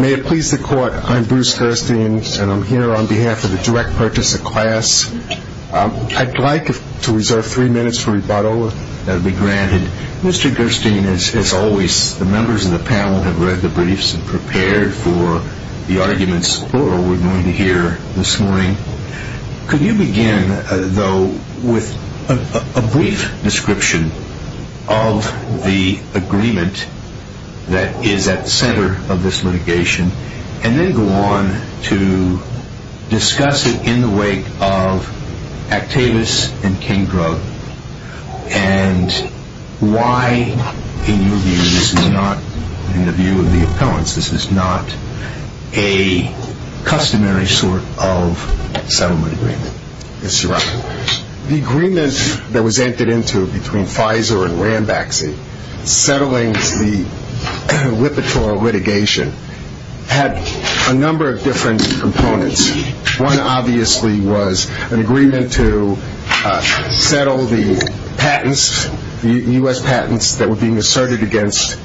May it please the Court, I'm Bruce Gerstein and I'm here on behalf of the Direct Purchase of Class. I'd like to reserve three minutes for rebuttal that will be granted. Mr. Gerstein, as always, the members of the panel have read the briefs and prepared for the arguments, plural, we're going to hear this morning. Could you begin, though, with a brief description of the agreement that is at the center of this litigation, and then go on to discuss it in the wake of Actavis and Kingdra, and why, in your view, this is not, in the view of the appellants, this is not a customary sort of settlement agreement. Mr. Rafferty. The agreement that was entered into between Pfizer and Rambaxi, settling the Lipitor litigation, had a number of different components. One, obviously, was an agreement to settle the patents, the U.S. patents that were being asserted against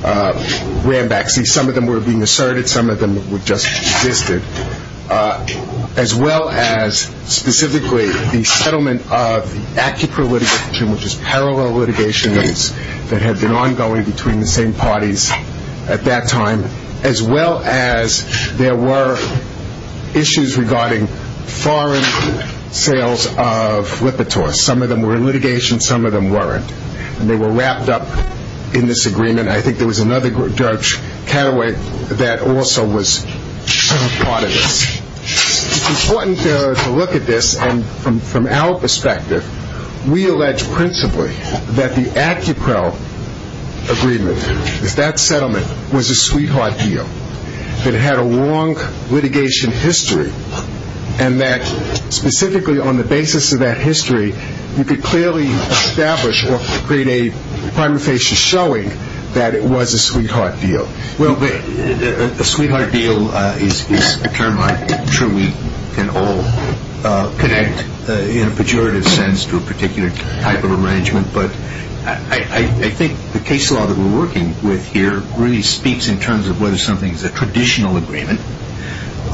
Rambaxi. Some of them were being asserted, some of them just existed. As well as, specifically, the settlement of the ACIPRA litigation, which is parallel litigation that had been ongoing between the same parties at that time, as well as there were issues regarding foreign sales of Lipitor. Some of them were in litigation, some of them weren't. And they were wrapped up in this agreement. I think there was another Dutch cataway that also was part of this. It's important to look at this from our perspective. We allege, principally, that the ACIPRA agreement, if that settlement was a sweetheart deal, that it had a long litigation history, and that, specifically, on the basis of that history, you could clearly establish or create a prima facie showing that it was a sweetheart deal. Well, a sweetheart deal is a term I'm sure we can all connect, in a pejorative sense, to a particular type of arrangement. But I think the case law that we're working with here really speaks in terms of whether something is a traditional agreement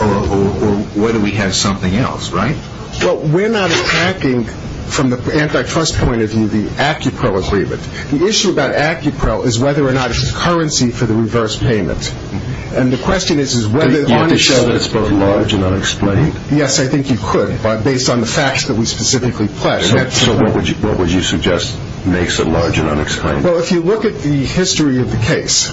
or whether we have something else, right? Well, we're not attacking, from the antitrust point of view, the ACIPRA agreement. The issue about ACIPRA is whether or not it's currency for the reverse payment. And the question is whether or not it shows that it's both large and unexplained. Yes, I think you could, based on the facts that we specifically pledge. So what would you suggest makes it large and unexplained? Well, if you look at the history of the case,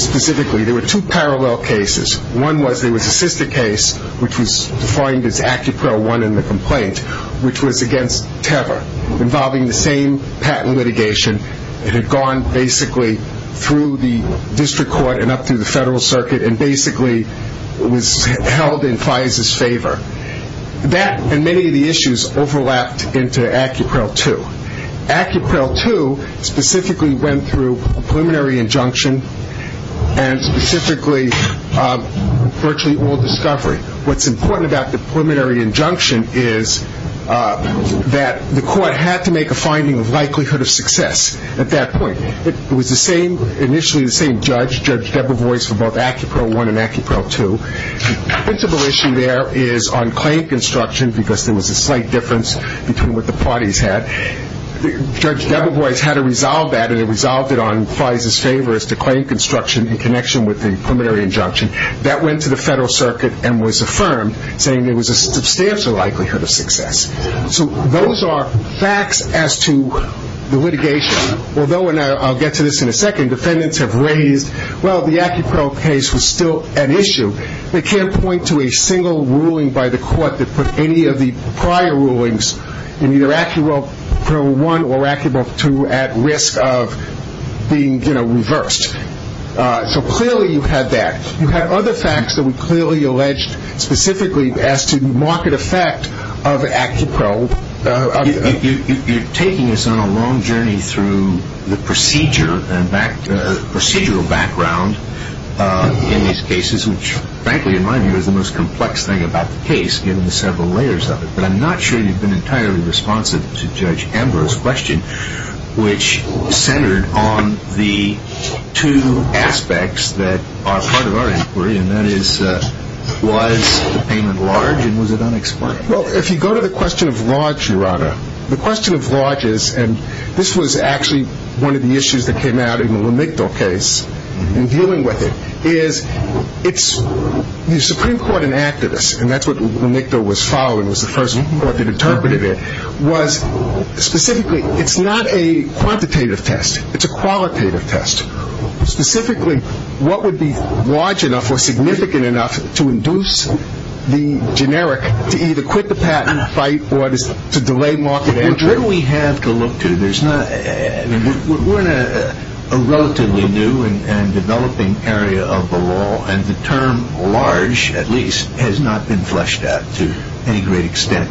specifically, there were two parallel cases. One was there was a sister case, which was defined as ACIPRA 1 in the complaint, which was against Tevar, involving the same patent litigation. It had gone, basically, through the district court and up through the federal circuit and basically was held in FISA's favor. That and many of the issues overlapped into ACIPRA 2. ACIPRA 2 specifically went through a preliminary injunction and, specifically, virtually all discovery. What's important about the preliminary injunction is that the court had to make a finding of likelihood of success at that point. It was initially the same judge, Judge Debovois, for both ACIPRA 1 and ACIPRA 2. The principal issue there is on claim construction, because there was a slight difference between what the parties had. Judge Debovois had to resolve that, and he resolved it on FISA's favor, is to claim construction in connection with the preliminary injunction. That went to the federal circuit and was affirmed, saying there was a substantial likelihood of success. So those are facts as to the litigation. Although, and I'll get to this in a second, defendants have raised, well, the ACIPRA case was still an issue. They can't point to a single ruling by the court that put any of the prior rulings in either ACIPRA 1 or ACIPRA 2 at risk of being reversed. So clearly you had that. You had other facts that were clearly alleged, specifically as to the market effect of ACIPRA 1. You're taking us on a long journey through the procedural background in these cases, which, frankly, in my view, is the most complex thing about the case, given the several layers of it. But I'm not sure you've been entirely responsive to Judge Ambrose's question, which centered on the two aspects that are part of our inquiry, and that is, was the payment large and was it unexplained? Well, if you go to the question of large, your Honor, the question of large is, and this was actually one of the issues that came out in the Lamicto case in dealing with it, is the Supreme Court, an activist, and that's what Lamicto was following, was the first court that interpreted it, was specifically, it's not a quantitative test. It's a qualitative test. Specifically, what would be large enough or significant enough to induce the generic, to either quit the fight or to delay market action? What do we have to look to? We're in a relatively new and developing area of the law, and the term large, at least, has not been fleshed out to any great extent,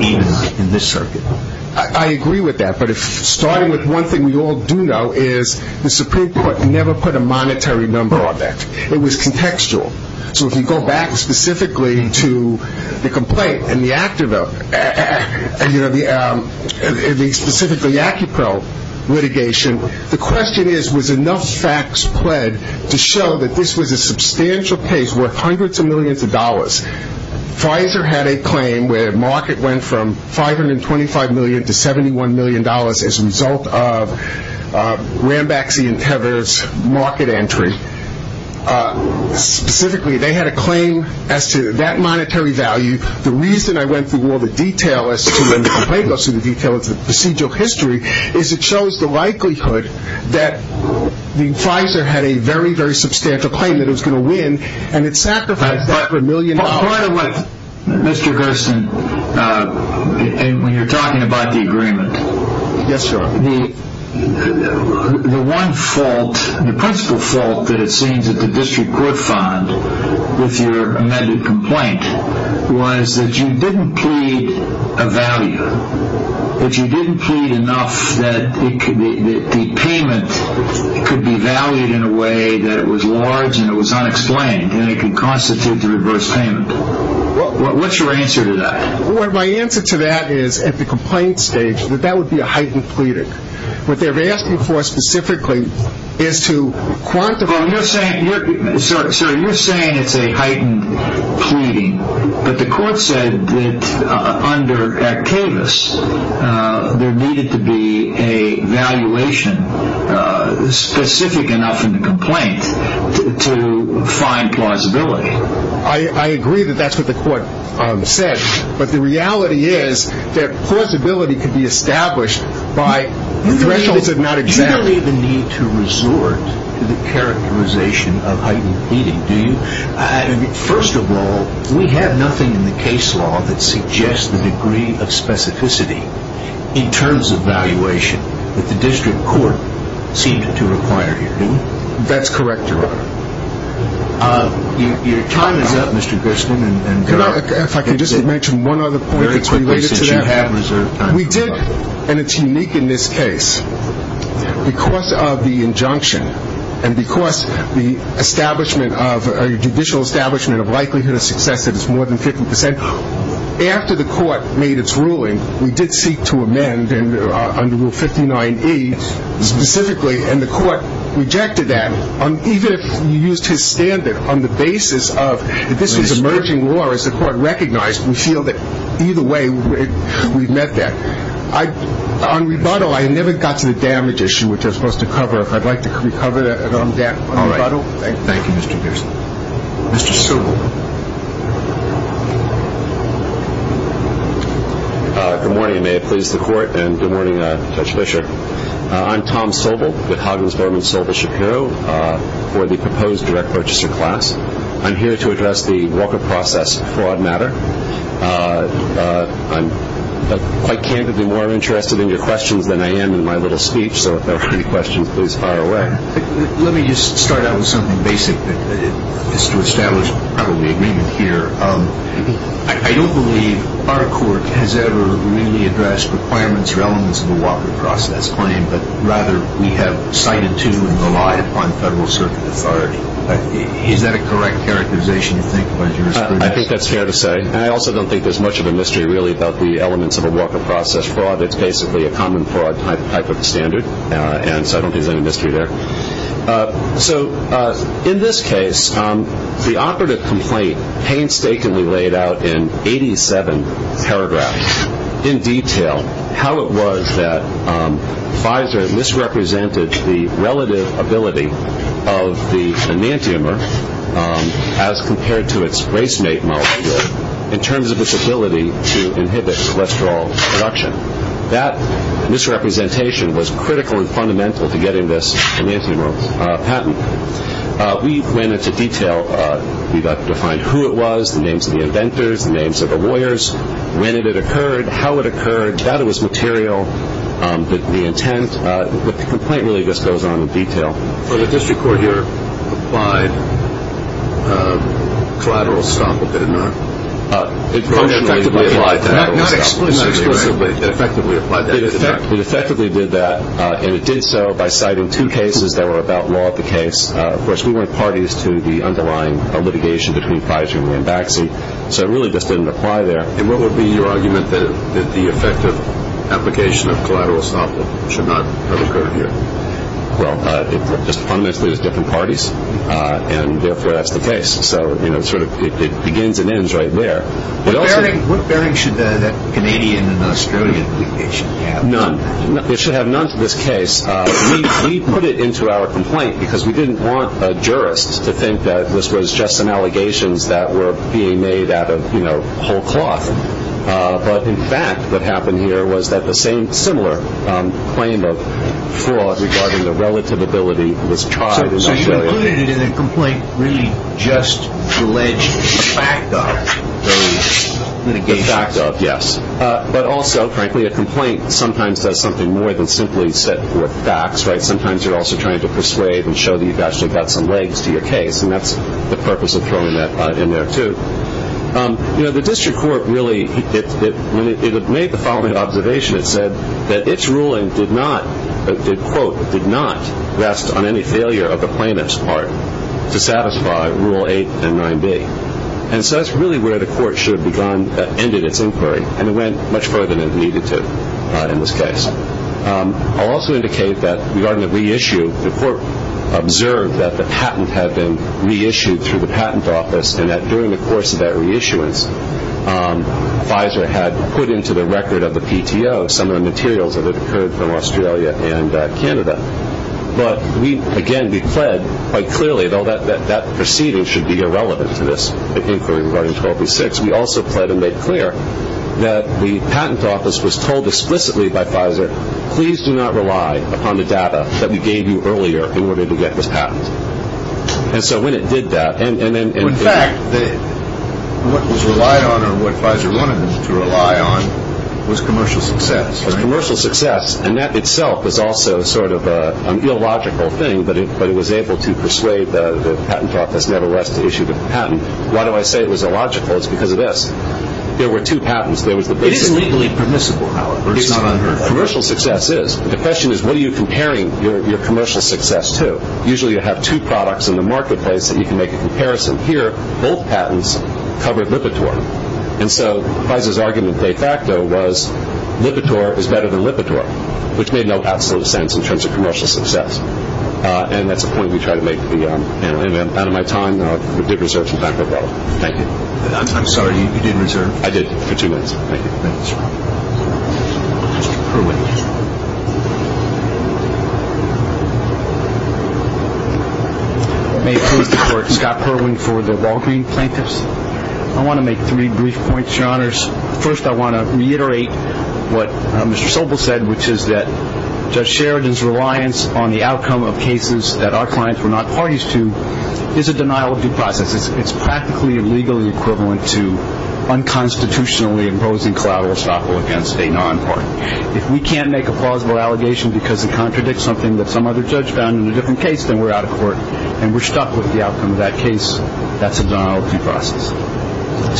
even in this circuit. I agree with that, but starting with one thing we all do know is the Supreme Court never put a monetary number on that. It was contextual. So if you go back specifically to the complaint and the active, and specifically the ACIPRO litigation, the question is, was enough facts pled to show that this was a substantial case worth hundreds of millions of dollars? Pfizer had a claim where market went from $525 million to $71 million as a result of Rambaxy and Tevers' market entry. Specifically, they had a claim as to that monetary value. The reason I went through all the detail as to when the complaint goes through the detail of the procedural history is it shows the likelihood that Pfizer had a very, very substantial claim that it was going to win, and it sacrificed that for a million dollars. Mr. Gersten, when you're talking about the agreement, the one fault, the principal fault, that it seems that the district court found with your amended complaint was that you didn't plead a value, that you didn't plead enough that the payment could be valued in a way that it was large and it was unexplained, and it could constitute the reverse payment. What's your answer to that? My answer to that is, at the complaint stage, that that would be a heightened pleading. What they're asking for specifically is to quantify. So you're saying it's a heightened pleading, but the court said that under Actavis, there needed to be a valuation specific enough in the complaint to find plausibility. I agree that that's what the court said, but the reality is that plausibility could be established by thresholds that are not examined. Do you believe the need to resort to the characterization of heightened pleading? First of all, we have nothing in the case law that suggests the degree of specificity in terms of valuation that the district court seemed to require here, do we? That's correct, Your Honor. Your time is up, Mr. Gersten. If I could just mention one other point that's related to that. Very quickly, since you have reserved time. We did, and it's unique in this case, because of the injunction, and because the judicial establishment of likelihood of success that it's more than 50 percent, after the court made its ruling, we did seek to amend under Rule 59E specifically, and the court rejected that, even if you used his standard on the basis of, if this was emerging law, as the court recognized, we feel that either way, we've met that. On rebuttal, I never got to the damage issue, which I'm supposed to cover. If I'd like to recover that on rebuttal. All right. Thank you, Mr. Gersten. Mr. Sobel. Good morning, and may it please the court, and good morning, Judge Fischer. I'm Tom Sobel, with Huggins, Berman, Sobel, Shapiro, for the proposed direct purchasing class. I'm here to address the Walker process fraud matter. I'm quite candidly more interested in your questions than I am in my little speech, so if there are any questions, please fire away. Let me just start out with something basic that is to establish probably agreement here. I don't believe our court has ever really addressed requirements or elements of the Walker process claim, but rather we have cited to and relied upon federal circuit authority. Is that a correct characterization, you think, Judge Gersten? I think that's fair to say, and I also don't think there's much of a mystery, really, about the elements of a Walker process fraud. It's basically a common fraud type of standard, and so I don't think there's any mystery there. So in this case, the operative complaint painstakingly laid out in 87 paragraphs in detail how it was that Pfizer misrepresented the relative ability of the enantiomer as compared to its race mate molecule in terms of its ability to inhibit cholesterol production. That misrepresentation was critical and fundamental to getting this enantiomer patent. We went into detail. We defined who it was, the names of the inventors, the names of the lawyers, when it occurred, how it occurred. That was material, the intent. The complaint really just goes on in detail. So the district court here applied collateral estoppel, did it not? It functionally did. Not explicitly, but it effectively applied that. It effectively did that, and it did so by citing two cases that were about law at the case. Of course, we went parties to the underlying litigation between Pfizer and Rambaxi, so it really just didn't apply there. And what would be your argument that the effective application of collateral estoppel should not have occurred here? Well, it just fundamentally is different parties, and therefore that's the case. So it begins and ends right there. What bearing should that Canadian and Australian litigation have? None. It should have none to this case. We put it into our complaint because we didn't want jurists to think that this was just some allegations that were being made out of, you know, whole cloth. But, in fact, what happened here was that the same similar claim of fraud regarding the relative ability was tried in Australia. So you included it in a complaint really just to allege the fact of those litigations? The fact of, yes. But also, frankly, a complaint sometimes does something more than simply set forth facts, right? Sometimes you're also trying to persuade and show that you've actually got some legs to your case, and that's the purpose of throwing that in there, too. You know, the district court really, when it made the following observation, it said that its ruling did not, quote, did not rest on any failure of the plaintiff's part to satisfy Rule 8 and 9b. And so that's really where the court should have ended its inquiry, and it went much further than it needed to in this case. I'll also indicate that regarding the reissue, the court observed that the patent had been reissued through the patent office and that during the course of that reissuance, Pfizer had put into the record of the PTO some of the materials that had occurred from Australia and Canada. But we, again, declared quite clearly, though that proceeding should be irrelevant to this inquiry regarding 1286, we also pled and made clear that the patent office was told explicitly by Pfizer, please do not rely upon the data that we gave you earlier in order to get this patent. And so when it did that, and then in fact, what was relied on or what Pfizer wanted them to rely on was commercial success. It was commercial success, and that itself was also sort of an illogical thing, but it was able to persuade the patent office nevertheless to issue the patent. And why do I say it was illogical? It's because of this. There were two patents. It is legally permissible, however. It's not unheard of. Commercial success is. The question is what are you comparing your commercial success to? Usually you have two products in the marketplace that you can make a comparison. Here, both patents covered Lipitor. And so Pfizer's argument de facto was Lipitor is better than Lipitor, which made no absolute sense in terms of commercial success. And that's a point we try to make out of my time. We did reserve some time for both. Thank you. I'm sorry, you didn't reserve? I did, for two minutes. Thank you. Mr. Perling. May it please the Court, Scott Perling for the Walgreen Plaintiffs. I want to make three brief points, Your Honors. First, I want to reiterate what Mr. Sobel said, which is that Judge Sheridan's reliance on the outcome of cases that our clients were not parties to is a denial-of-due process. It's practically legally equivalent to unconstitutionally imposing collateral estoppel against a non-party. If we can't make a plausible allegation because it contradicts something that some other judge found in a different case, then we're out of court and we're stuck with the outcome of that case. That's a denial-of-due process.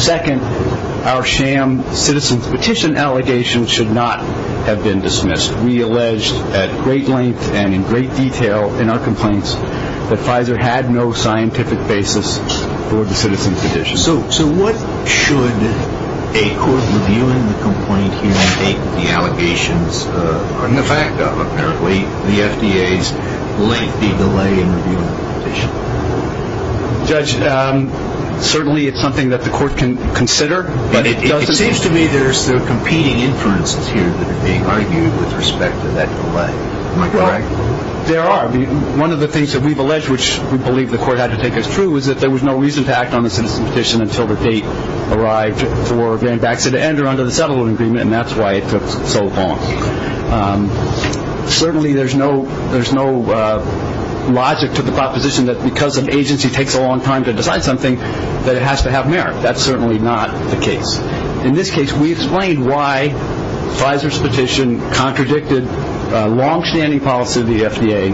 Second, our sham citizen's petition allegations should not have been dismissed. We alleged at great length and in great detail in our complaints that Pfizer had no scientific basis for the citizen's petition. So what should a court reviewing the complaint here take the allegations, and the fact of, apparently, the FDA's lengthy delay in reviewing the petition? Judge, certainly it's something that the court can consider. But it seems to me there's competing inferences here that are being argued with respect to that delay. Am I correct? There are. One of the things that we've alleged, which we believe the court had to take as true, is that there was no reason to act on the citizen's petition until the date arrived for getting Baxter to enter under the settlement agreement, and that's why it took so long. Certainly there's no logic to the proposition that because an agency takes a long time to decide something, that it has to have merit. That's certainly not the case. In this case, we explained why Pfizer's petition contradicted a longstanding policy of the FDA.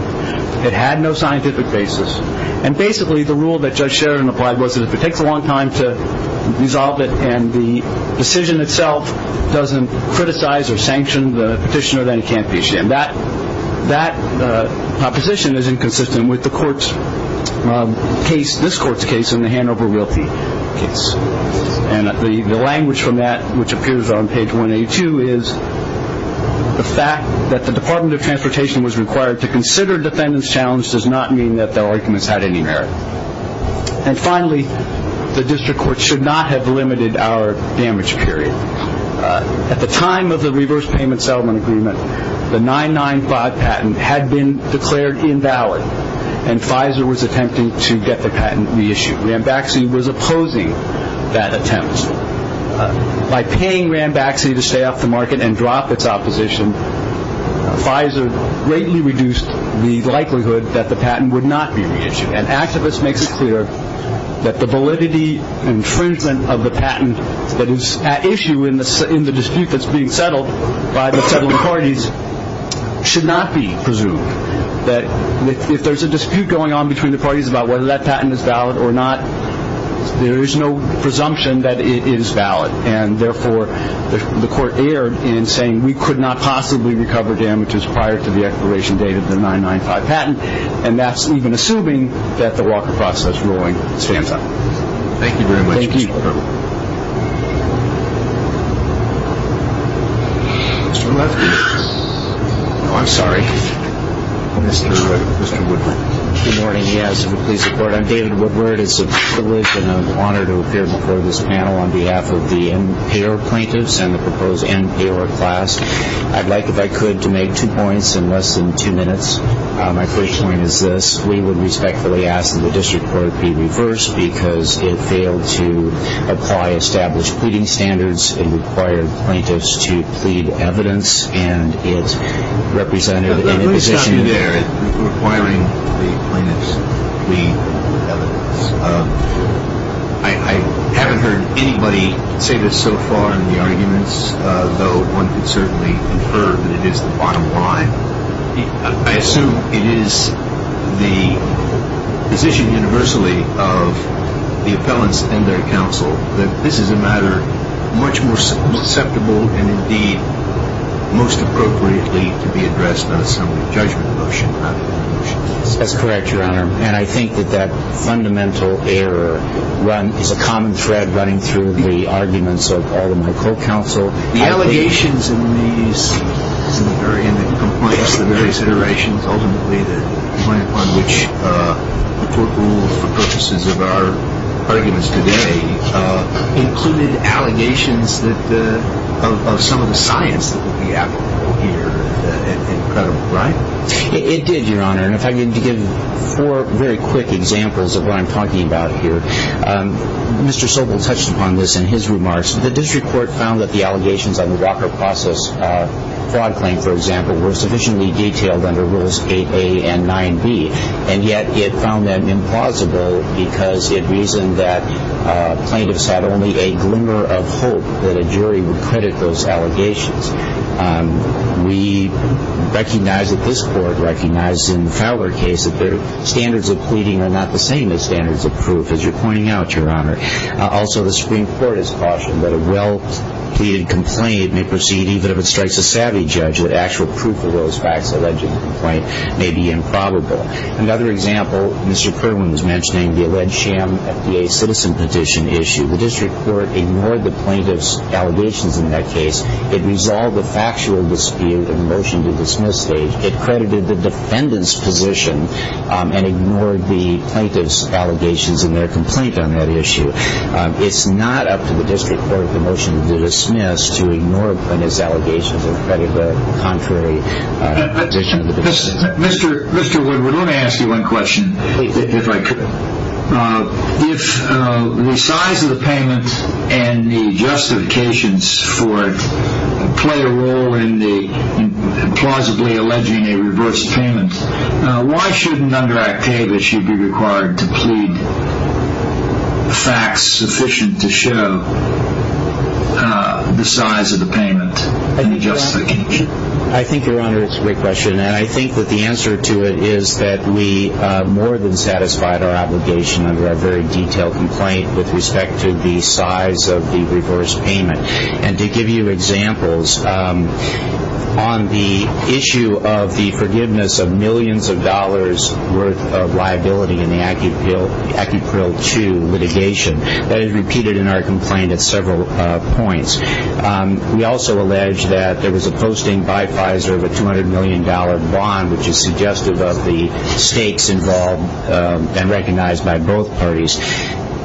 It had no scientific basis. And basically the rule that Judge Sheridan applied was that if it takes a long time to resolve it and the decision itself doesn't criticize or sanction the petitioner, then it can't be issued. And that proposition is inconsistent with the court's case, this court's case, and the Hanover Realty case. And the language from that, which appears on page 182, is the fact that the Department of Transportation was required to consider defendant's challenge does not mean that their arguments had any merit. And finally, the district court should not have limited our damage period. At the time of the reverse payment settlement agreement, the 995 patent had been declared invalid, and Pfizer was attempting to get the patent reissued. Rambaxi was opposing that attempt. By paying Rambaxi to stay off the market and drop its opposition, Pfizer greatly reduced the likelihood that the patent would not be reissued. An activist makes it clear that the validity and infringement of the patent that is at issue in the dispute that's being settled by the settlement parties should not be presumed. That if there's a dispute going on between the parties about whether that patent is valid or not, there is no presumption that it is valid. And therefore, the court erred in saying we could not possibly recover damages prior to the expiration date of the 995 patent. And that's even assuming that the Walker process ruling stands up. Thank you very much, Mr. Carver. Thank you. Mr. Lefty. Oh, I'm sorry. Mr. Woodward. Good morning, yes. If you'll please report. I'm David Woodward. It's a privilege and an honor to appear before this panel on behalf of the NPR plaintiffs and the proposed NPR class. I'd like, if I could, to make two points in less than two minutes. My first point is this. We would respectfully ask that the district court be reversed because it failed to apply established pleading standards. It required plaintiffs to plead evidence, and it represented an imposition. Requiring the plaintiffs to plead evidence. I haven't heard anybody say this so far in the arguments, though one could certainly infer that it is the bottom line. I assume it is the position universally of the appellants and their counsel that this is a matter much more susceptible and indeed most appropriately to be addressed on some judgment motion rather than motions. That's correct, Your Honor. And I think that that fundamental error is a common thread running through the arguments of all of my co-counsel. The allegations in these, in the various iterations ultimately that point upon which the court ruled for purposes of our arguments today included allegations of some of the science that would be applicable here. Incredible, right? It did, Your Honor. And if I could give four very quick examples of what I'm talking about here. Mr. Sobel touched upon this in his remarks. The district court found that the allegations on the Walker process fraud claim, for example, were sufficiently detailed under Rules 8a and 9b, and yet it found them implausible because it reasoned that plaintiffs had only a glimmer of hope that a jury would credit those allegations. We recognize that this court recognized in Fowler case that their standards of pleading are not the same as standards of proof, as you're pointing out, Your Honor. Also, the Supreme Court has cautioned that a well-pleaded complaint may proceed even if it strikes a savvy judge that actual proof of those facts alleged in the complaint may be improbable. Another example, Mr. Kirwan was mentioning the alleged sham FDA citizen petition issue. The district court ignored the plaintiffs' allegations in that case. It resolved the factual dispute in the motion to dismiss stage. It credited the defendant's position and ignored the plaintiffs' allegations in their complaint on that issue. It's not up to the district court in the motion to dismiss to ignore plaintiffs' allegations or credit the contrary position of the defendant. Mr. Woodward, let me ask you one question, if I could. If the size of the payment and the justifications for it play a role in the plausibly alleging a reverse payment, why shouldn't Under Act K that she be required to plead facts sufficient to show the size of the payment and the justification? I think, Your Honor, it's a great question. And I think that the answer to it is that we more than satisfied our obligation under our very detailed complaint with respect to the size of the reverse payment. And to give you examples, on the issue of the forgiveness of millions of dollars worth of liability in the Acupril 2 litigation, that is repeated in our complaint at several points. We also allege that there was a posting by Pfizer of a $200 million bond, which is suggestive of the stakes involved and recognized by both parties.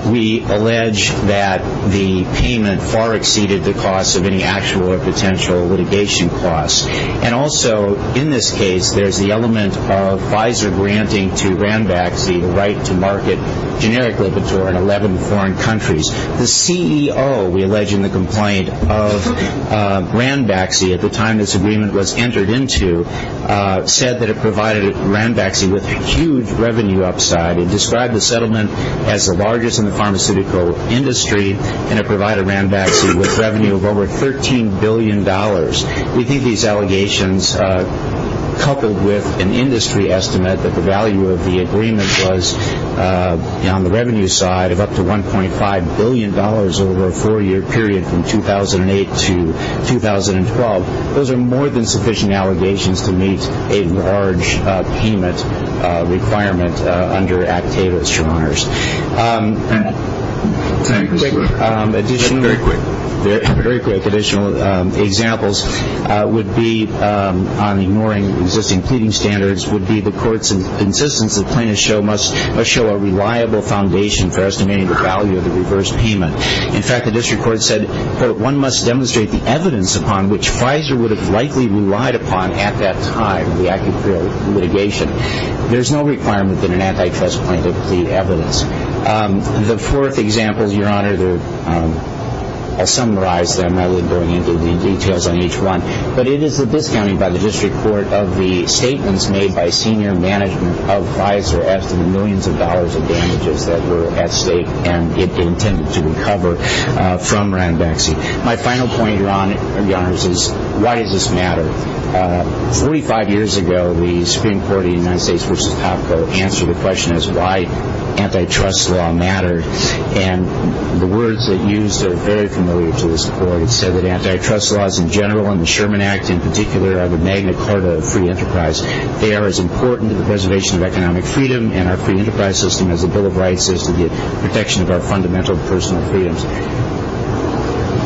We allege that the payment far exceeded the cost of any actual or potential litigation costs. And also, in this case, there's the element of Pfizer granting to Rambach the right to market generic Lipitor in 11 foreign countries. The CEO, we allege in the complaint, of Rambach, at the time this agreement was entered into, said that it provided Rambach with huge revenue upside. It described the settlement as the largest in the pharmaceutical industry, and it provided Rambach with revenue of over $13 billion. We think these allegations, coupled with an industry estimate that the value of the agreement was, on the revenue side, of up to $1.5 billion over a four-year period from 2008 to 2012, those are more than sufficient allegations to meet a large payment requirement under Act 8, Mr. Honors. Very quick additional examples would be, on ignoring existing pleading standards, would be the court's insistence that plaintiffs must show a reliable foundation for estimating the value of the reverse payment. In fact, the district court said that one must demonstrate the evidence upon which Pfizer would have likely relied upon at that time, the act of litigation. There's no requirement that an antitrust plaintiff plead evidence. The fourth example, Your Honor, I'll summarize them. I won't go into the details on each one. But it is the discounting by the district court of the statements made by senior management of Pfizer as to the millions of dollars of damages that were at stake and intended to recover from Rambach. My final point, Your Honor, is why does this matter? Forty-five years ago, the Supreme Court of the United States v. Popco answered the question as to why antitrust law mattered. And the words it used are very familiar to this court. It said that antitrust laws in general and the Sherman Act in particular are the magna carta of free enterprise. They are as important to the preservation of economic freedom and our free enterprise system as the Bill of Rights is to the protection of our fundamental personal freedoms.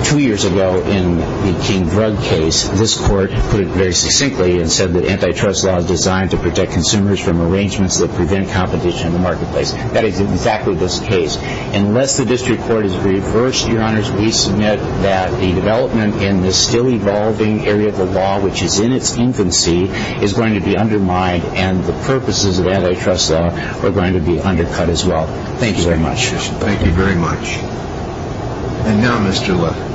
Two years ago, in the King Drug case, this court put it very succinctly and said that antitrust law is designed to protect consumers from arrangements that prevent competition in the marketplace. That is exactly this case. Unless the district court is reversed, Your Honors, we submit that the development in this still-evolving area of the law, which is in its infancy, is going to be undermined and the purposes of antitrust law are going to be undercut as well. Thank you very much. Thank you very much. And now Mr. Lefkowitz.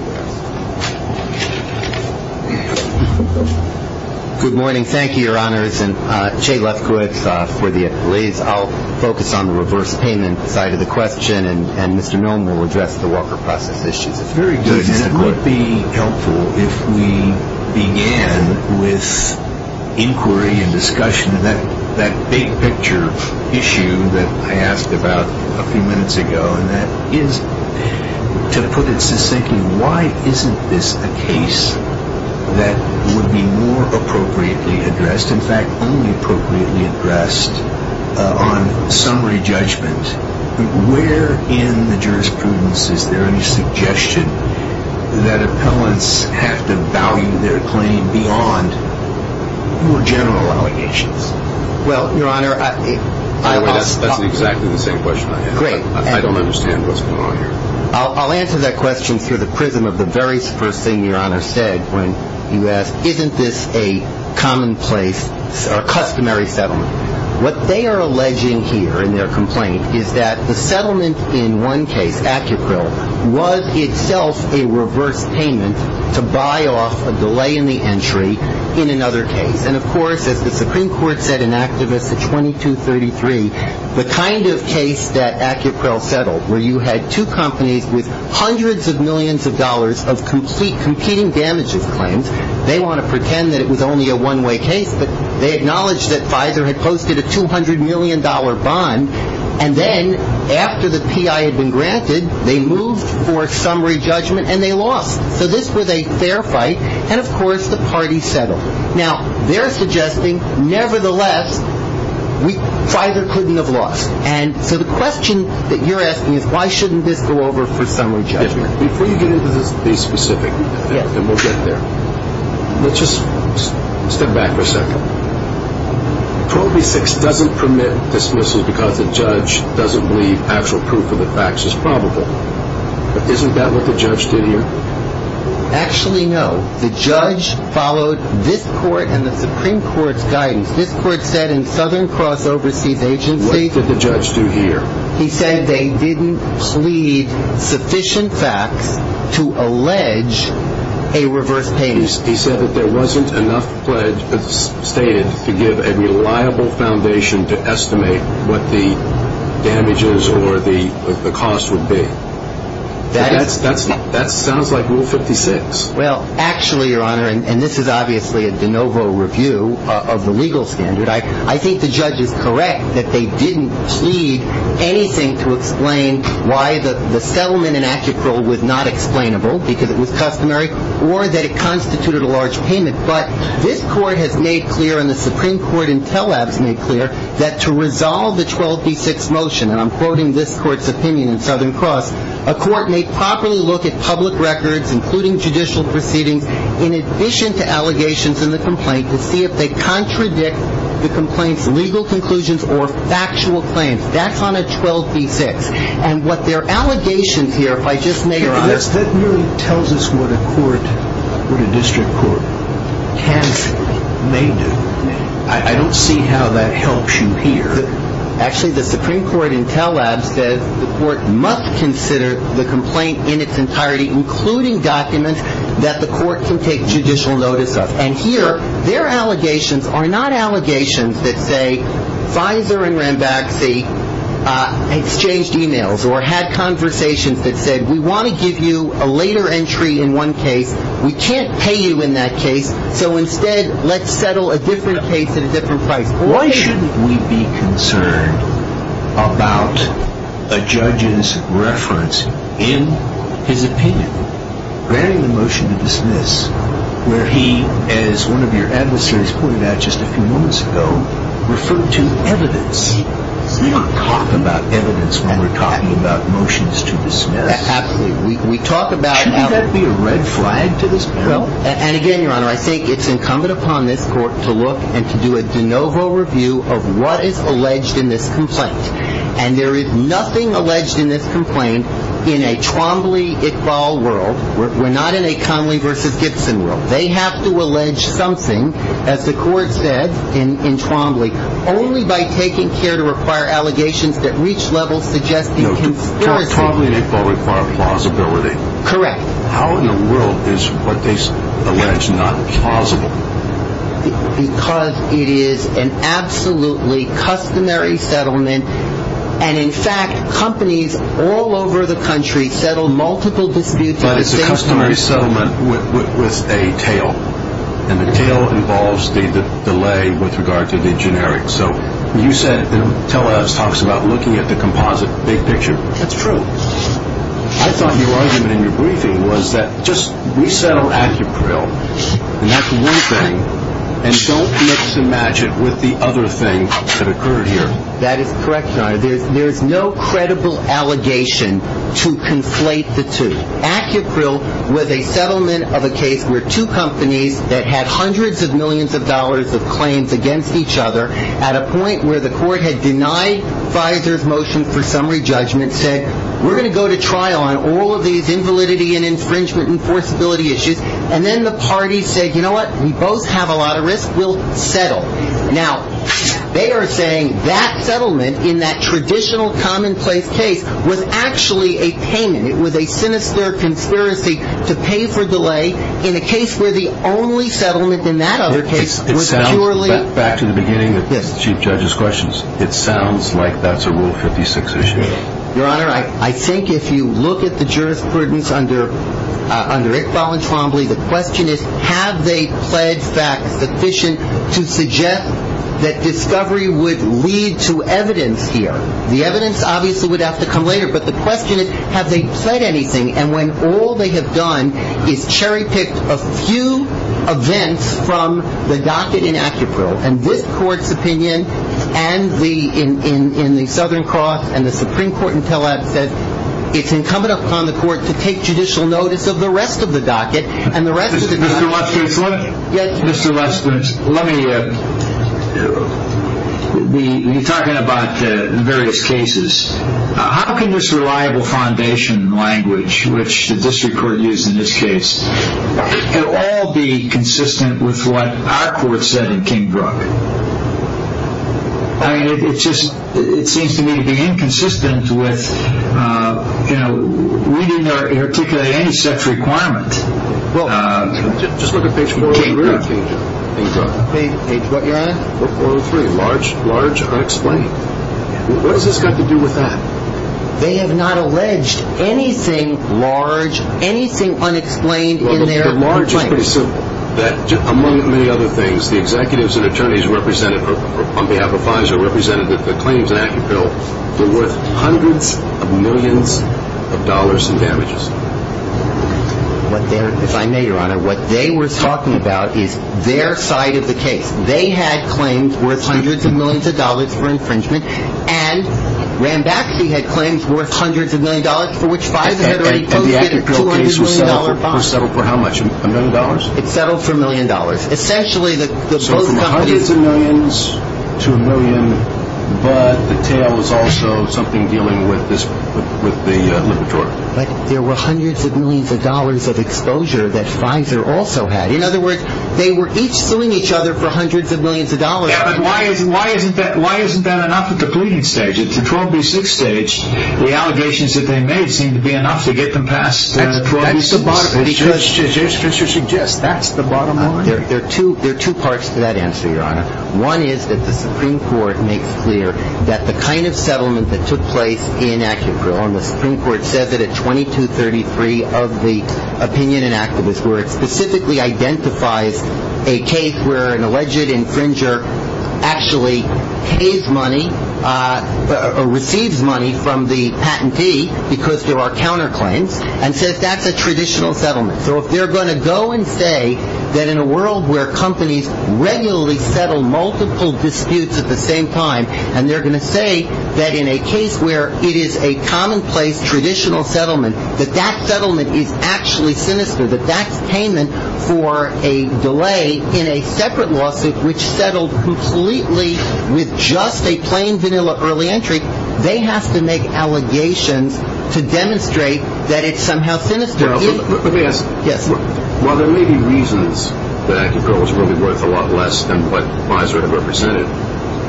Good morning. Thank you, Your Honors. Jay Lefkowitz for the affiliates. I'll focus on the reverse payment side of the question, and Mr. Nome will address the Walker process issue. Very good. It would be helpful if we began with inquiry and discussion. That big picture issue that I asked about a few minutes ago, and that is to put it succinctly, why isn't this a case that would be more appropriately addressed? It's just, in fact, only appropriately addressed on summary judgment. Where in the jurisprudence is there any suggestion that appellants have to value their claim beyond more general allegations? Well, Your Honor, I will stop there. That's exactly the same question I have. I don't understand what's going on here. I'll answer that question through the prism of the very first thing Your Honor said when you asked isn't this a commonplace or customary settlement. What they are alleging here in their complaint is that the settlement in one case, Acupril, was itself a reverse payment to buy off a delay in the entry in another case. And, of course, as the Supreme Court said in Activist 2233, the kind of case that Acupril settled where you had two companies with hundreds of millions of dollars of competing damages claims. They want to pretend that it was only a one-way case, but they acknowledged that Pfizer had posted a $200 million bond, and then after the PI had been granted, they moved for summary judgment, and they lost. So this was a fair fight, and, of course, the party settled. Now, they're suggesting, nevertheless, Pfizer couldn't have lost. And so the question that you're asking is why shouldn't this go over for summary judgment? Before you get into the specifics, and we'll get there, let's just step back for a second. 12B6 doesn't permit dismissals because the judge doesn't believe actual proof of the facts is probable. But isn't that what the judge did here? Actually, no. The judge followed this Court and the Supreme Court's guidance. This Court said in Southern Cross Overseas Agency... What did the judge do here? He said they didn't plead sufficient facts to allege a reverse payment. He said that there wasn't enough pledge stated to give a reliable foundation to estimate what the damages or the cost would be. That sounds like Rule 56. Well, actually, Your Honor, and this is obviously a de novo review of the legal standard, I think the judge is correct that they didn't plead anything to explain why the settlement in Acuprol was not explainable, because it was customary, or that it constituted a large payment. But this Court has made clear, and the Supreme Court in Tel Aviv has made clear, that to resolve the 12B6 motion, and I'm quoting this Court's opinion in Southern Cross, a court may properly look at public records, including judicial proceedings, in addition to allegations in the complaint, to see if they contradict the complaint's legal conclusions or factual claims. That's on a 12B6. And what their allegations here, if I just may, Your Honor... That merely tells us what a court, what a district court, can do, may do. I don't see how that helps you here. Actually, the Supreme Court in Tel Aviv says the court must consider the complaint in its entirety, including documents that the court can take judicial notice of. And here, their allegations are not allegations that say Pfizer and Rambaxi exchanged e-mails or had conversations that said, we want to give you a later entry in one case, we can't pay you in that case, so instead let's settle a different case at a different price. Why should we be concerned about a judge's reference in his opinion, bearing the motion to dismiss, where he, as one of your adversaries pointed out just a few moments ago, referred to evidence. We don't talk about evidence when we're talking about motions to dismiss. Absolutely. We talk about... Shouldn't that be a red flag to this panel? And again, Your Honor, I think it's incumbent upon this court to look and to do a de novo review of what is alleged in this complaint. And there is nothing alleged in this complaint in a Trombley-Iqbal world. We're not in a Conley versus Gibson world. They have to allege something, as the court said in Trombley, only by taking care to require allegations that reach levels suggesting conspiracy. No, Trombley and Iqbal require plausibility. Correct. How in the world is what they allege not plausible? Because it is an absolutely customary settlement. And in fact, companies all over the country settle multiple disputes at the same time. But it's a customary settlement with a tail. And the tail involves the delay with regard to the generic. So you said, you know, Tellez talks about looking at the composite big picture. That's true. I thought your argument in your briefing was that just resettle Acupril. And that's one thing. And don't mix and match it with the other thing that occurred here. That is correct, Your Honor. There is no credible allegation to conflate the two. Acupril was a settlement of a case where two companies that had hundreds of millions of dollars of claims against each other at a point where the court had denied Pfizer's motion for summary judgment said, we're going to go to trial on all of these invalidity and infringement enforceability issues. And then the parties said, you know what? We both have a lot of risk. We'll settle. Now, they are saying that settlement in that traditional commonplace case was actually a payment. It was a sinister conspiracy to pay for delay in a case where the only settlement in that other case was purely. Back to the beginning, the Chief Judge's questions. It sounds like that's a Rule 56 issue. Your Honor, I think if you look at the jurisprudence under Iqbal and Trombley, the question is, have they pledged facts sufficient to suggest that discovery would lead to evidence here? The evidence obviously would have to come later. But the question is, have they pledged anything? And when all they have done is cherry-pick a few events from the docket in Acapulco, and this court's opinion and the in the Southern Cross and the Supreme Court in Tel Aviv said, it's incumbent upon the court to take judicial notice of the rest of the docket. And the rest of the docket. Mr. Lester, let me be talking about the various cases. How can this reliable foundation language, which the district court used in this case, all be consistent with what our court said in King Brook? It seems to me to be inconsistent with reading or articulating any such requirement. Just look at page 403. Page what, Your Honor? 403, large unexplained. What has this got to do with that? They have not alleged anything large, anything unexplained in their claim. The large is pretty simple. That among many other things, the executives and attorneys represented on behalf of FISA represented that the claims in Acapulco were worth hundreds of millions of dollars in damages. If I may, Your Honor, what they were talking about is their side of the case. They had claims worth hundreds of millions of dollars for infringement, and Rambacci had claims worth hundreds of millions of dollars for which FISA had already posted a $200 million bond. And the Acapulco case was settled for how much, a million dollars? It settled for a million dollars. So from hundreds of millions to a million, but the tail was also something dealing with the liberatory. But there were hundreds of millions of dollars of exposure that FISA also had. In other words, they were each suing each other for hundreds of millions of dollars. Yeah, but why isn't that enough at the pleading stage? At the 12B6 stage, the allegations that they made seemed to be enough to get them past 12B6. That's the bottom line. As Judge Fischer suggests, that's the bottom line. There are two parts to that answer, Your Honor. One is that the Supreme Court makes clear that the kind of settlement that took place in Acapulco, and the Supreme Court says it at 2233 of the opinion in Acapulco, where it specifically identifies a case where an alleged infringer actually pays money, receives money from the patentee because there are counterclaims, and says that's a traditional settlement. So if they're going to go and say that in a world where companies regularly settle multiple disputes at the same time, and they're going to say that in a case where it is a commonplace traditional settlement, that that settlement is actually sinister, that that's payment for a delay in a separate lawsuit which settled completely with just a plain vanilla early entry, they have to make allegations to demonstrate that it's somehow sinister. Let me ask. Yes. While there may be reasons that Acapulco's will be worth a lot less than what FISA had represented,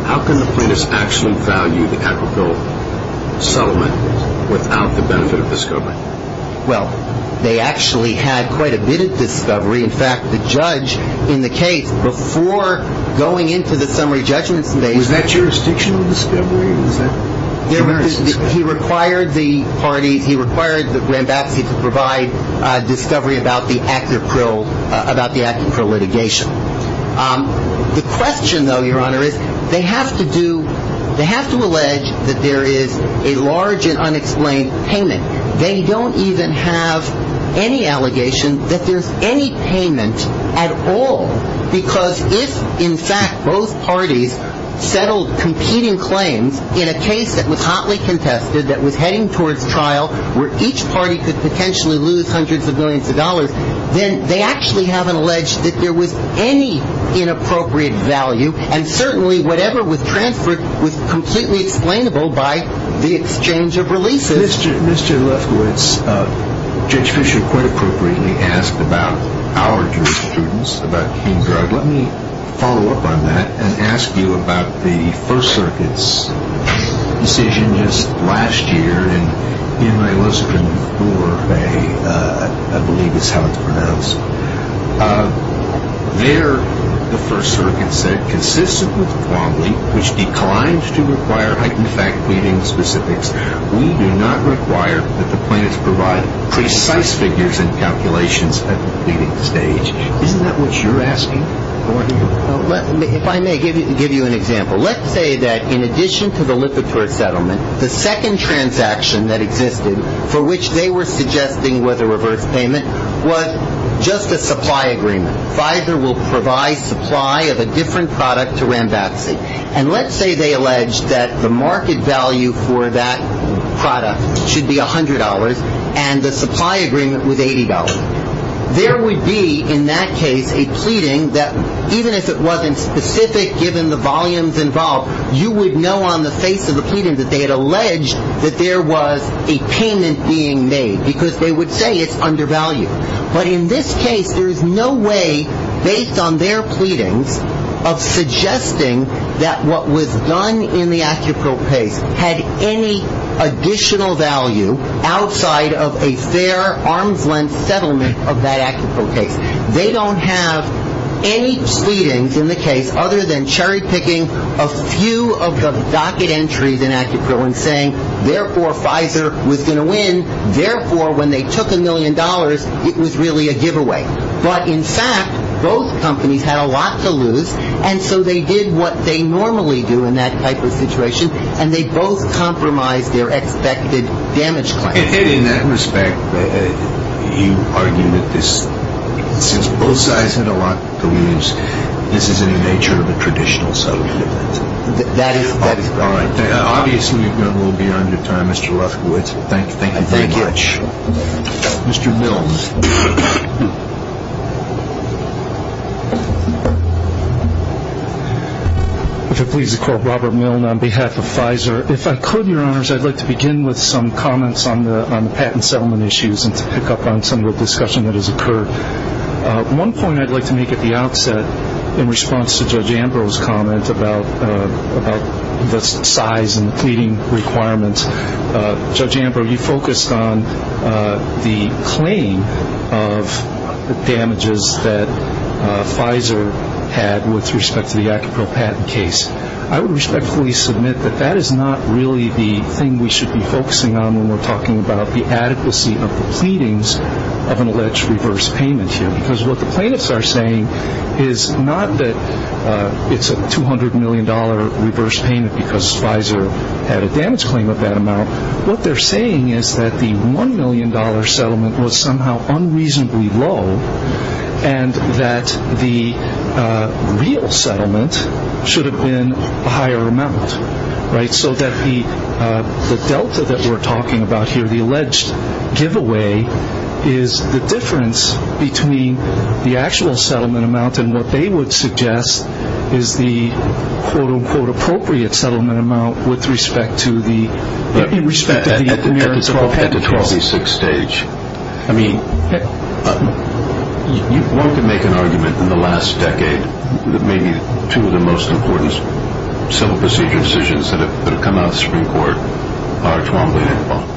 how can the plaintiffs actually value the Acapulco settlement without the benefit of discovery? Well, they actually had quite a bit of discovery. In fact, the judge in the case, before going into the summary judgment, Was that jurisdictional discovery? He required the parties, he required the grand baptist to provide discovery about the Acapulco litigation. The question, though, Your Honor, is they have to do, they have to allege that there is a large and unexplained payment. They don't even have any allegation that there's any payment at all. Because if, in fact, both parties settled competing claims in a case that was hotly contested, that was heading towards trial, where each party could potentially lose hundreds of millions of dollars, then they actually haven't alleged that there was any inappropriate value. And certainly whatever was transferred was completely explainable by the exchange of releases. Mr. Lefkowitz, Judge Fischer quite appropriately asked about our jurisprudence, about King Drug. Let me follow up on that and ask you about the First Circuit's decision just last year, in my listening tour, I believe is how it's pronounced. There, the First Circuit said, consistent with the quantity, which declines to require heightened fact pleading specifics, we do not require that the plaintiffs provide precise figures and calculations at the pleading stage. Isn't that what you're asking? If I may give you an example. Let's say that in addition to the Lipitor settlement, the second transaction that existed, for which they were suggesting was a reverse payment, was just a supply agreement. Pfizer will provide supply of a different product to Rambatsy. And let's say they allege that the market value for that product should be $100, and the supply agreement was $80. There would be, in that case, a pleading that even if it wasn't specific, given the volumes involved, you would know on the face of the pleading that they had alleged that there was a payment being made, because they would say it's undervalued. But in this case, there is no way, based on their pleadings, of suggesting that what was done in the Acuprope case had any additional value outside of a fair, arm's-length settlement of that Acuprope case. They don't have any pleadings in the case other than cherry-picking a few of the docket entries in Acuprope and saying, therefore, Pfizer was going to win, therefore, when they took a million dollars, it was really a giveaway. But, in fact, both companies had a lot to lose, and so they did what they normally do in that type of situation, and they both compromised their expected damage claim. In that respect, you argue that since both sides had a lot to lose, this is in the nature of a traditional settlement agreement. That is correct. Obviously, we've gone a little beyond your time, Mr. Rothkowitz. Thank you very much. Thank you. Mr. Milne. If it pleases the Court, Robert Milne on behalf of Pfizer. If I could, Your Honors, I'd like to begin with some comments on the patent settlement issues and to pick up on some of the discussion that has occurred. One point I'd like to make at the outset, in response to Judge Ambrose's comment about the size and the pleading requirements, Judge Ambrose, you focused on the claim of the damages that Pfizer had with respect to the Acupro patent case. I would respectfully submit that that is not really the thing we should be focusing on when we're talking about the adequacy of the pleadings of an alleged reverse payment here, because what the plaintiffs are saying is not that it's a $200 million reverse payment because Pfizer had a damage claim of that amount. What they're saying is that the $1 million settlement was somehow unreasonably low and that the real settlement should have been a higher amount. So that the delta that we're talking about here, the alleged giveaway, is the difference between the actual settlement amount and what they would suggest is the quote-unquote appropriate settlement amount with respect to the American Acupro patent case. At the 26th stage, I mean, one can make an argument in the last decade that maybe two of the most important civil procedure decisions that have come out of the Supreme Court are $1.2 million.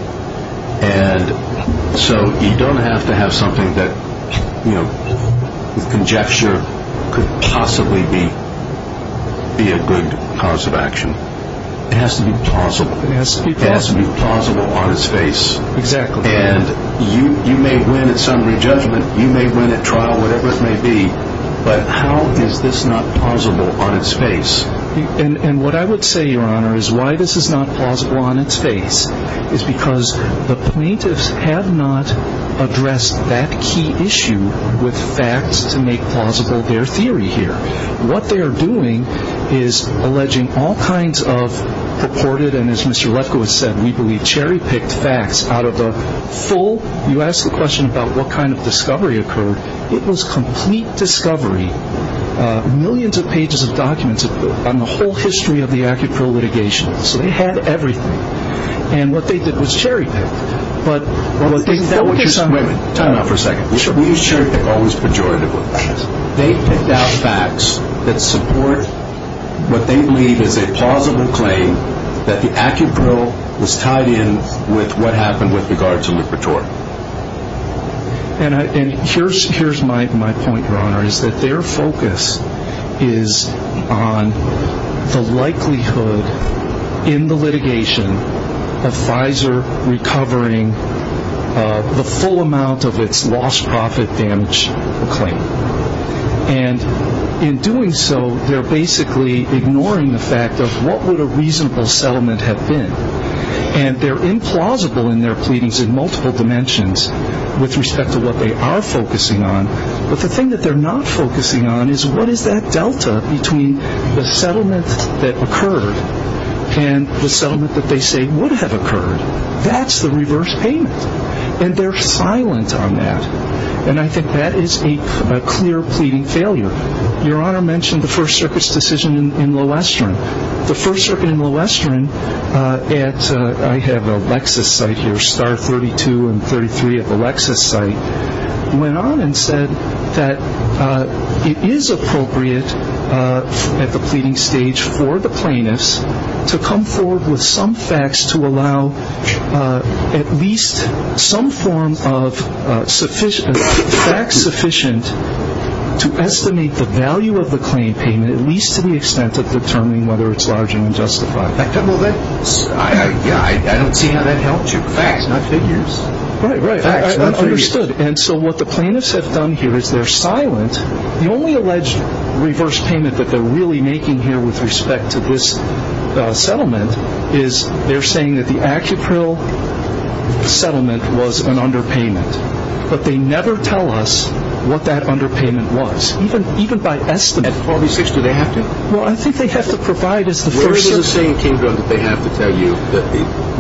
And so you don't have to have something that, you know, with conjecture could possibly be a good cause of action. It has to be plausible. It has to be plausible on its face. And you may win at summary judgment, you may win at trial, whatever it may be, but how is this not plausible on its face? And what I would say, Your Honor, is why this is not plausible on its face is because the plaintiffs have not addressed that key issue with facts to make plausible their theory here. What they are doing is alleging all kinds of purported, and as Mr. Lefkoe has said, we believe cherry-picked facts out of the full. You asked the question about what kind of discovery occurred. It was complete discovery. Millions of pages of documents on the whole history of the Acupril litigation. So they had everything. And what they did was cherry-pick. Wait a minute. Time out for a second. We use cherry-pick always pejoratively. They picked out facts that support what they believe is a plausible claim that the Acupril was tied in with what happened with regards to Lipitor. And here's my point, Your Honor, is that their focus is on the likelihood in the litigation of Pfizer recovering the full amount of its lost profit damage claim. And in doing so, they're basically ignoring the fact of what would a reasonable settlement have been. And they're implausible in their pleadings in multiple dimensions with respect to what they are focusing on. But the thing that they're not focusing on is what is that delta between the settlement that occurred and the settlement that they say would have occurred. That's the reverse payment. And they're silent on that. And I think that is a clear pleading failure. Your Honor mentioned the First Circuit's decision in Lowestern. The First Circuit in Lowestern at, I have a Lexus site here, Star 32 and 33 at the Lexus site, went on and said that it is appropriate at the pleading stage for the plaintiffs to come forward with some facts to allow at least some form of facts sufficient to estimate the value of the claim payment at least to the extent of determining whether it's large and unjustified. I don't see how that helps you. Facts, not figures. Right, right. Facts, not figures. Understood. And so what the plaintiffs have done here is they're silent. The only alleged reverse payment that they're really making here with respect to this settlement is they're saying that the Acupril settlement was an underpayment. But they never tell us what that underpayment was. Even by estimate. At 46, do they have to? Well, I think they have to provide us the First Circuit. Where does it say in King Drug that they have to tell you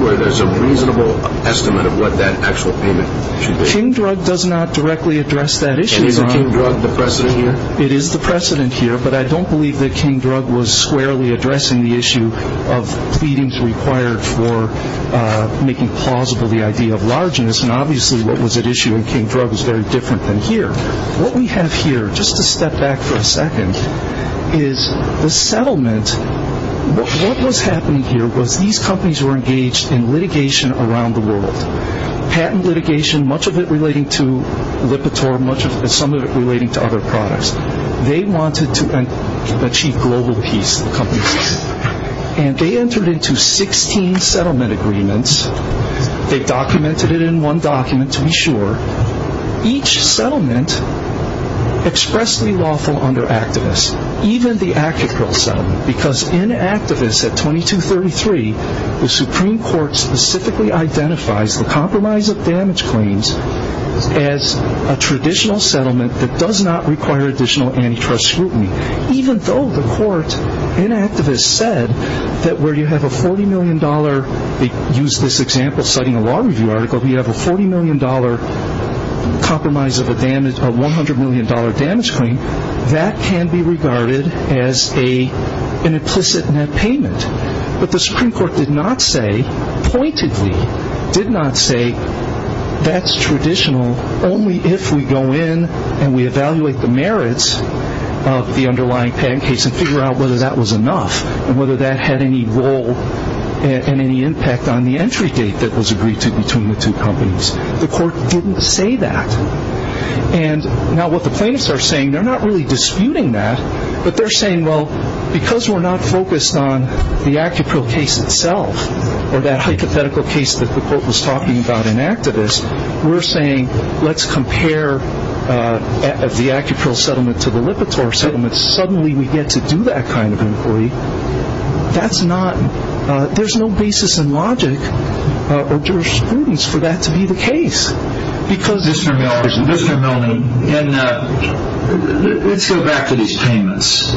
where there's a reasonable estimate of what that actual payment should be? King Drug does not directly address that issue, Your Honor. And is King Drug the precedent here? It is the precedent here, but I don't believe that King Drug was squarely addressing the issue of pleadings required for making plausible the idea of largeness. And obviously what was at issue in King Drug is very different than here. What we have here, just to step back for a second, is the settlement. What was happening here was these companies were engaged in litigation around the world. Patent litigation, much of it relating to Lipitor, some of it relating to other products. They wanted to achieve global peace. And they entered into 16 settlement agreements. They documented it in one document, to be sure. Each settlement expressly lawful under activists. Even the Acapryl settlement. Because in activists at 2233, the Supreme Court specifically identifies the compromise of damage claims as a traditional settlement that does not require additional antitrust scrutiny. Even though the court in activists said that where you have a $40 million, they used this example citing a law review article, where you have a $40 million compromise of a $100 million damage claim, that can be regarded as an implicit net payment. But the Supreme Court did not say, pointedly did not say, that's traditional only if we go in and we evaluate the merits of the underlying patent case and figure out whether that was enough and whether that had any role and any impact on the entry date that was agreed to between the two companies. The court didn't say that. And now what the plaintiffs are saying, they're not really disputing that, but they're saying, well, because we're not focused on the Acapryl case itself, or that hypothetical case that the court was talking about in activists, we're saying, let's compare the Acapryl settlement to the Lipitor settlement. Suddenly we get to do that kind of inquiry. That's not, there's no basis in logic or jurisprudence for that to be the case. Because Mr. Miller, Mr. Milne, let's go back to these payments.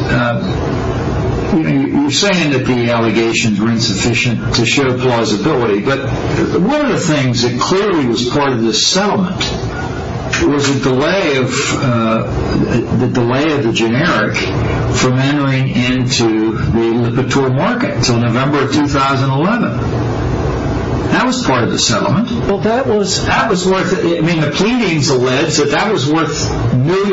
You're saying that the allegations were insufficient to show plausibility, but one of the things that clearly was part of this settlement was the delay of the generic from entering into the Lipitor market until November of 2011. That was part of the settlement. Well, that was worth, I mean, the pleadings allege that that was worth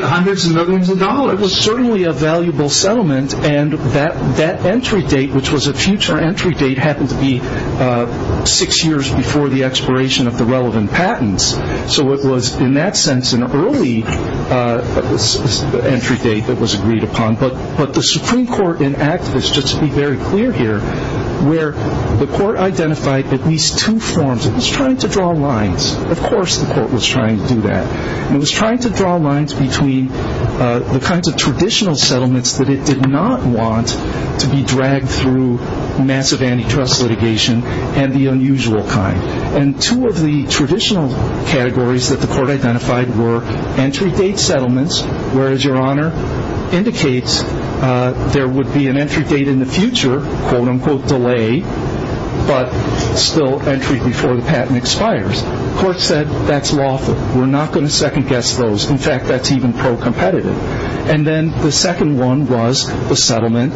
hundreds of millions of dollars. It was certainly a valuable settlement, and that entry date, which was a future entry date, happened to be six years before the expiration of the relevant patents. So it was, in that sense, an early entry date that was agreed upon. But the Supreme Court in activists, just to be very clear here, where the court identified at least two forms. It was trying to draw lines. Of course the court was trying to do that. It was trying to draw lines between the kinds of traditional settlements that it did not want to be dragged through massive antitrust litigation and the unusual kind. And two of the traditional categories that the court identified were entry date settlements, where, as Your Honor indicates, there would be an entry date in the future, quote-unquote delay, but still entry before the patent expires. The court said that's lawful. We're not going to second-guess those. In fact, that's even pro-competitive. And then the second one was the settlement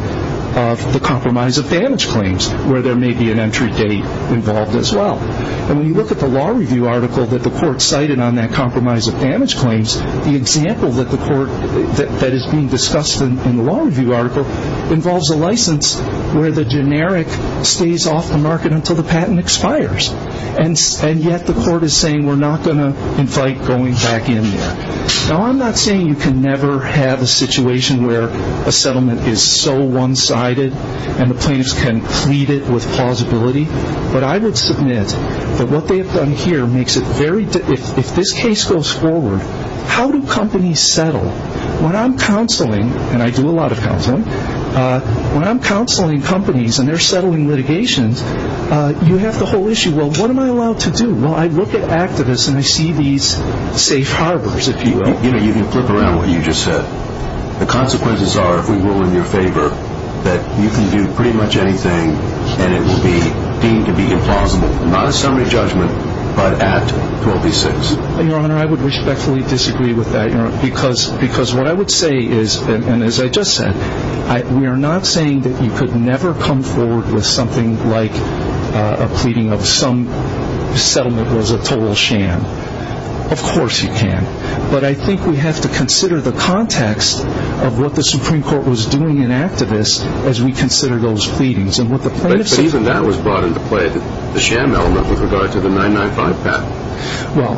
of the compromise of damage claims, where there may be an entry date involved as well. And when you look at the law review article that the court cited on that compromise of damage claims, the example that is being discussed in the law review article involves a license where the generic stays off the market until the patent expires. And yet the court is saying we're not going to invite going back in there. Now, I'm not saying you can never have a situation where a settlement is so one-sided and the plaintiffs can plead it with plausibility, but I would submit that what they have done here makes it very difficult. If this case goes forward, how do companies settle? When I'm counseling, and I do a lot of counseling, when I'm counseling companies and they're settling litigations, you have the whole issue, well, what am I allowed to do? Well, I look at activists and I see these safe harbors, if you will. You can flip around what you just said. The consequences are, if we rule in your favor, that you can do pretty much anything and it will be deemed to be implausible, not a summary judgment, but Act 12b-6. Your Honor, I would respectfully disagree with that, Your Honor, because what I would say is, and as I just said, we are not saying that you could never come forward with something like a pleading of some settlement was a total sham. Of course you can. But I think we have to consider the context of what the Supreme Court was doing in activist as we consider those pleadings. But even that was brought into play, the sham element with regard to the 995 patent. Well,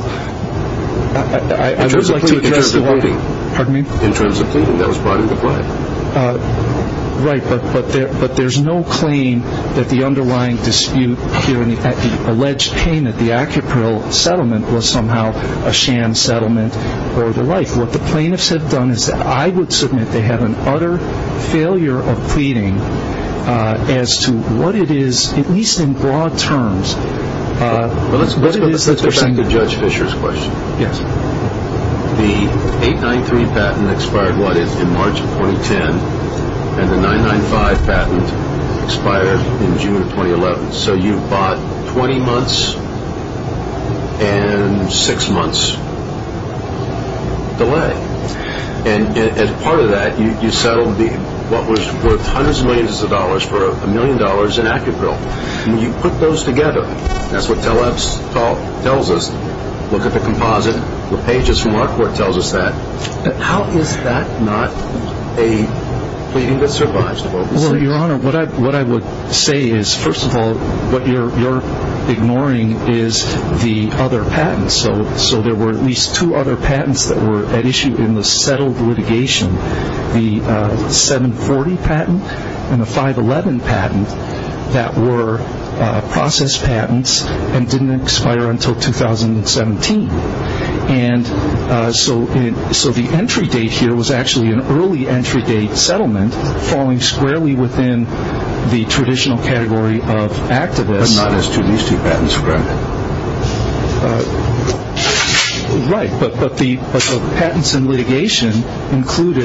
I would like to address the... In terms of pleading. Pardon me? In terms of pleading, that was brought into play. Right, but there's no claim that the underlying dispute here, the alleged payment, the Acapril settlement was somehow a sham settlement or the like. What the plaintiffs have done is that I would submit they have an utter failure of pleading as to what it is, at least in broad terms, what it is that they're saying... Let's go back to Judge Fischer's question. Yes. The 893 patent expired, what, in March of 2010, and the 995 patent expired in June of 2011. So you've bought 20 months and 6 months delay. And as part of that, you settled what was worth hundreds of millions of dollars for a million dollars in Acapril. You put those together. That's what Telex tells us. Look at the composite. The pages from our court tells us that. How is that not a pleading that survives? Well, Your Honor, what I would say is, first of all, what you're ignoring is the other patents. So there were at least two other patents that were at issue in the settled litigation, the 740 patent and the 511 patent that were processed patents and didn't expire until 2017. And so the entry date here was actually an early entry date settlement falling squarely within the traditional category of activists. But not as to these two patents, correct? Right. But the patents in litigation included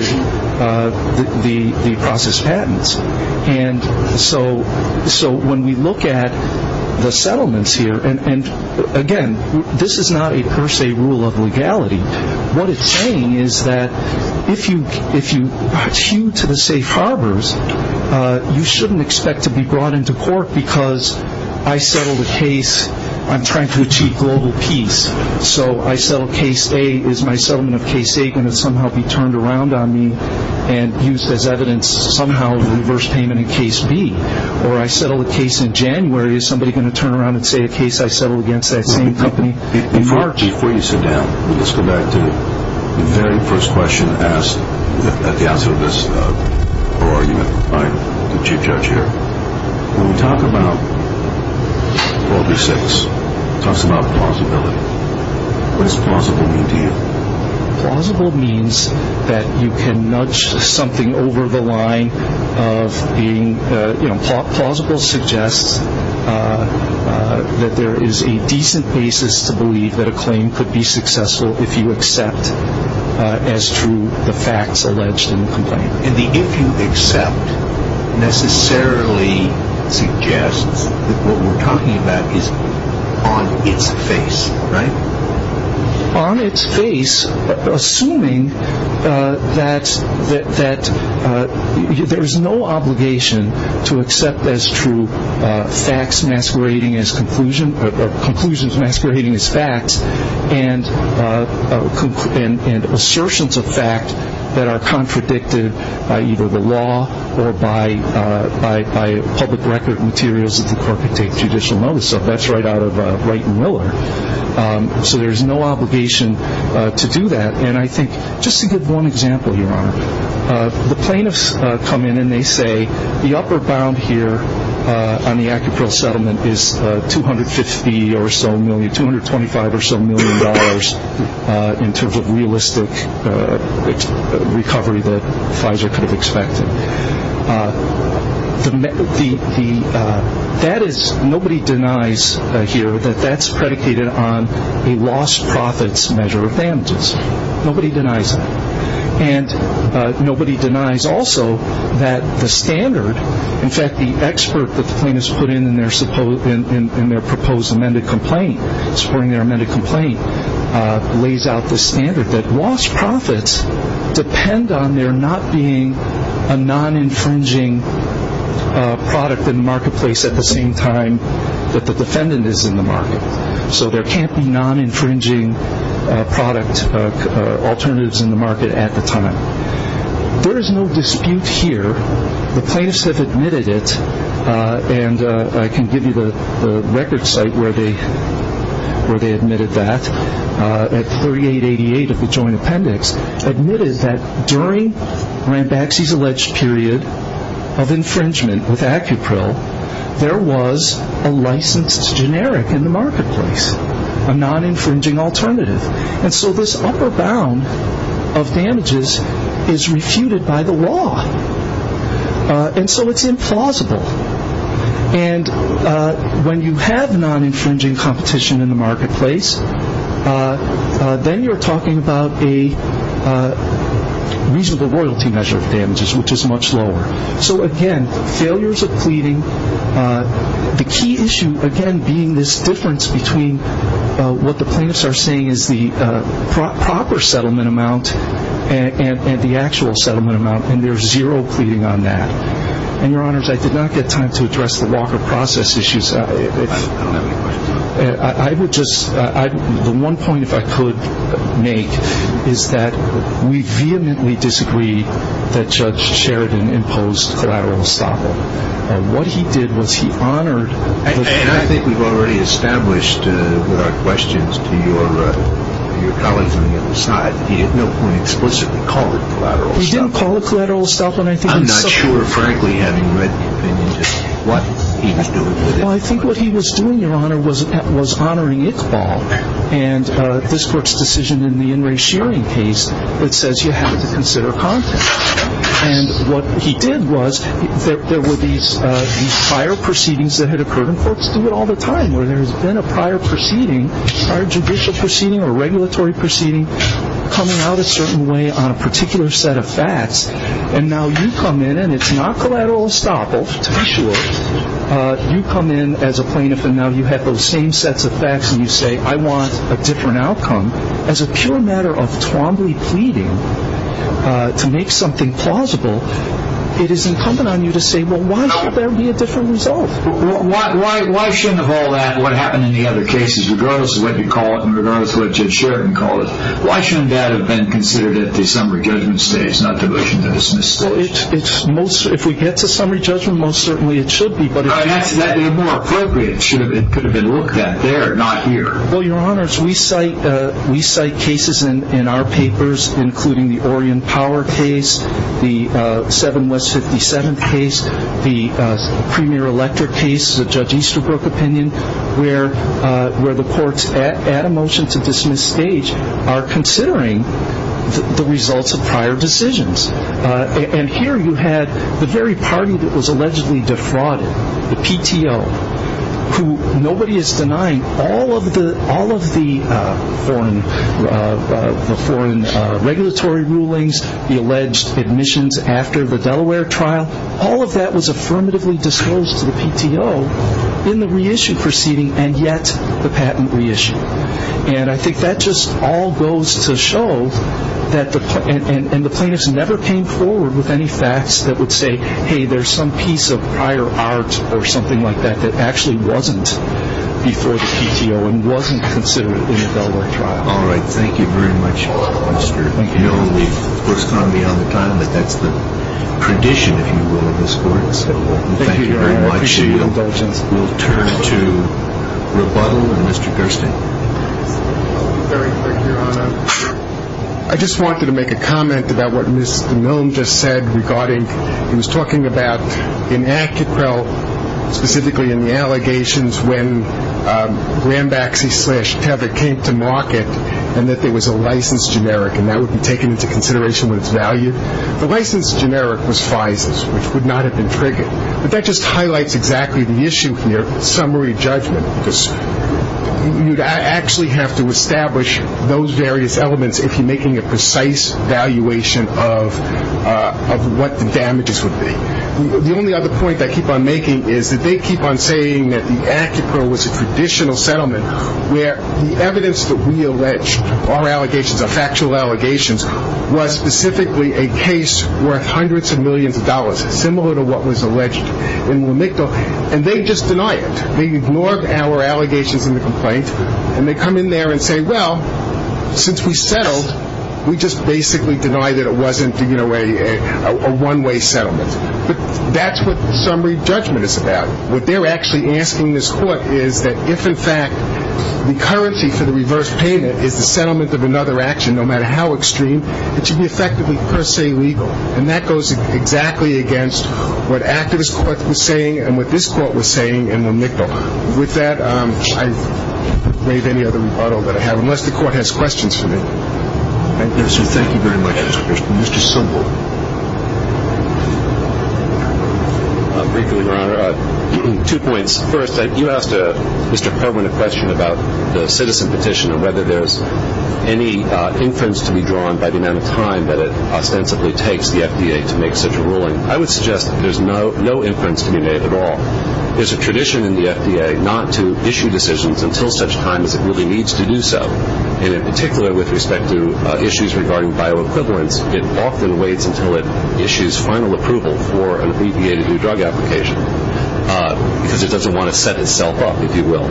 the processed patents. And so when we look at the settlements here, and again, this is not a per se rule of legality. What it's saying is that if you hew to the safe harbors, you shouldn't expect to be brought into court because I settled a case. I'm trying to achieve global peace. So I settle case A. Is my settlement of case A going to somehow be turned around on me and used as evidence somehow of reverse payment in case B? Or I settle a case in January. Is somebody going to turn around and say a case I settled against that same company? Before you sit down, let's go back to the very first question asked at the outset of this argument by the Chief Judge here. When we talk about 436, it talks about plausibility. What does plausible mean to you? Plausible means that you can nudge something over the line of being, you know, plausible suggests that there is a decent basis to believe that a claim could be successful if you accept as true the facts alleged in the complaint. And the if you accept necessarily suggests that what we're talking about is on its face, right? On its face, assuming that there is no obligation to accept as true facts masquerading as conclusion or conclusions masquerading as facts and assertions of fact that are contradicted by either the law or by public record materials that the court could take judicial notice of. That's right out of Wright and Miller. So there's no obligation to do that. And I think just to give one example, Your Honor, the plaintiffs come in and they say the upper bound here on the Acupril settlement is $250 or so million, $225 or so million in terms of realistic recovery that Pfizer could have expected. That is, nobody denies here that that's predicated on a lost profits measure of damages. Nobody denies that. And nobody denies also that the standard, in fact, the expert that the plaintiffs put in in their proposed amended complaint, supporting their amended complaint, lays out the standard that lost profits depend on there not being a non-infringing product in the marketplace at the same time that the defendant is in the market. So there can't be non-infringing product alternatives in the market at the time. There is no dispute here. The plaintiffs have admitted it, and I can give you the record site where they admitted that, at 3888 of the joint appendix, admitted that during Rambaxi's alleged period of infringement with Acupril, there was a licensed generic in the marketplace, a non-infringing alternative. And so this upper bound of damages is refuted by the law. And so it's implausible. And when you have non-infringing competition in the marketplace, then you're talking about a reasonable royalty measure of damages, which is much lower. So again, failures of pleading. The key issue, again, being this difference between what the plaintiffs are saying is the proper settlement amount and the actual settlement amount, and there's zero pleading on that. And, Your Honors, I did not get time to address the Walker process issues. I don't have any questions. The one point, if I could make, is that we vehemently disagree that Judge Sheridan imposed collateral estoppel. What he did was he honored. And I think we've already established with our questions to your colleagues on the other side that he at no point explicitly called it collateral estoppel. He didn't call it collateral estoppel. I'm not sure, frankly, having read the opinion, just what he was doing with it. Well, I think what he was doing, Your Honor, was honoring Iqbal. And this Court's decision in the In Re Shearing case, it says you have to consider content. And what he did was there were these prior proceedings that had occurred. And courts do it all the time, where there has been a prior proceeding, a prior judicial proceeding or regulatory proceeding, coming out a certain way on a particular set of facts. And now you come in, and it's not collateral estoppel, to be sure. You come in as a plaintiff, and now you have those same sets of facts, and you say, I want a different outcome. As a pure matter of Twombly pleading to make something plausible, it is incumbent on you to say, well, why should there be a different result? Why shouldn't of all that, what happened in the other cases, regardless of what you call it and regardless of what Judge Sheridan called it, why shouldn't that have been considered at the summary judgment stage, not the motion to dismiss? Well, if we get to summary judgment, most certainly it should be. But if that's more appropriate, it could have been looked at there, not here. Well, Your Honors, we cite cases in our papers, including the Orion Power case, the 7 West 57th case, the Premier Electric case, the Judge Easterbrook opinion, where the courts at a motion to dismiss stage are considering the results of prior decisions. And here you had the very party that was allegedly defrauded, the PTO, who nobody is denying all of the foreign regulatory rulings, the alleged admissions after the Delaware trial, all of that was affirmatively disclosed to the PTO in the reissue proceeding, and yet the patent reissued. And I think that just all goes to show that the plaintiffs never came forward with any facts that would say, hey, there's some piece of prior art or something like that that actually wasn't before the PTO and wasn't considered in the Delaware trial. All right. Thank you very much, Mr. Milne. We've, of course, gone beyond the time that that's the tradition, if you will, in this court. Thank you very much. I appreciate your indulgence. We'll turn to rebuttal and Mr. Gerstein. Very quick, Your Honor. I just wanted to make a comment about what Mr. Milne just said regarding he was talking about in Acquitrell, specifically in the allegations, when Rambaxi slash Tether came to market and that there was a license generic and that would be taken into consideration with its value. The license generic was FISAs, which would not have been triggered. But that just highlights exactly the issue here, summary judgment. You'd actually have to establish those various elements if you're making a precise valuation of what the damages would be. The only other point I keep on making is that they keep on saying that the Acquitrell was a traditional settlement where the evidence that we allege, our allegations, our factual allegations, was specifically a case worth hundreds of millions of dollars, similar to what was alleged in Lamictal, and they just deny it. They ignore our allegations in the complaint and they come in there and say, well, since we settled, we just basically deny that it wasn't a one-way settlement. But that's what summary judgment is about. What they're actually asking this Court is that if, in fact, the currency for the reverse payment is the settlement of another action, no matter how extreme, it should be effectively per se legal. And that goes exactly against what activist courts were saying and what this Court was saying in Lamictal. With that, I won't waive any other rebuttal that I have, unless the Court has questions for me. Thank you. Yes, sir. Thank you very much, Mr. Christian. Mr. Sobel. Briefly, Your Honor. Two points. First, you asked Mr. Perwin a question about the citizen petition and whether there's any inference to be drawn by the amount of time that it ostensibly takes the FDA to make such a ruling. I would suggest that there's no inference to be made at all. There's a tradition in the FDA not to issue decisions until such time as it really needs to do so. And in particular, with respect to issues regarding bioequivalence, it often waits until it issues final approval for an abbreviated new drug application because it doesn't want to set itself up, if you will,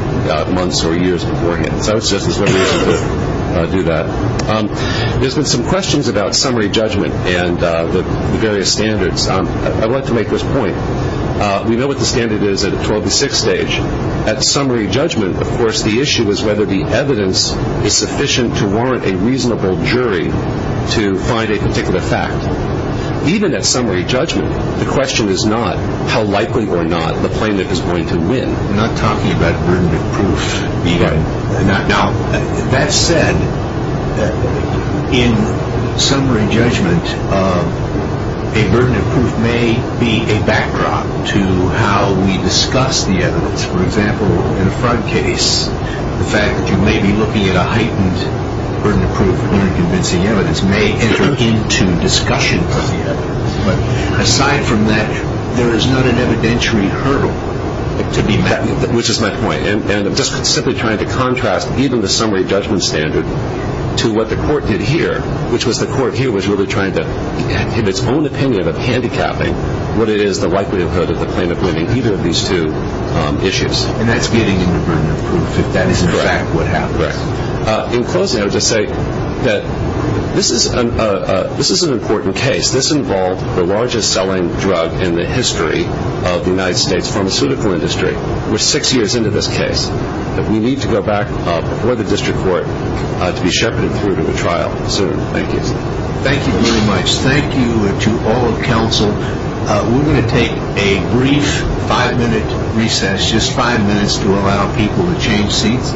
months or years beforehand. So I would suggest there's no reason to do that. There's been some questions about summary judgment and the various standards. I'd like to make this point. We know what the standard is at a 12 to 6 stage. At summary judgment, of course, the issue is whether the evidence is sufficient to warrant a reasonable jury to find a particular fact. Even at summary judgment, the question is not how likely or not the plaintiff is going to win. I'm not talking about burden of proof. Now, that said, in summary judgment, a burden of proof may be a backdrop to how we discuss the evidence. For example, in a fraud case, the fact that you may be looking at a heightened burden of proof and you're not convincing evidence may enter into discussions of the evidence. But aside from that, there is not an evidentiary hurdle to be met. Which is my point. And I'm just simply trying to contrast even the summary judgment standard to what the court did here, which was the court here was really trying to give its own opinion of handicapping what it is the likelihood of the plaintiff winning either of these two issues. And that's getting into burden of proof. That is in fact what happens. In closing, I would just say that this is an important case. This involved the largest selling drug in the history of the United States pharmaceutical industry. We're six years into this case. We need to go back before the district court to be shepherded through to the trial soon. Thank you. Thank you very much. Thank you to all of counsel. We're going to take a brief five-minute recess, just five minutes to allow people to change seats.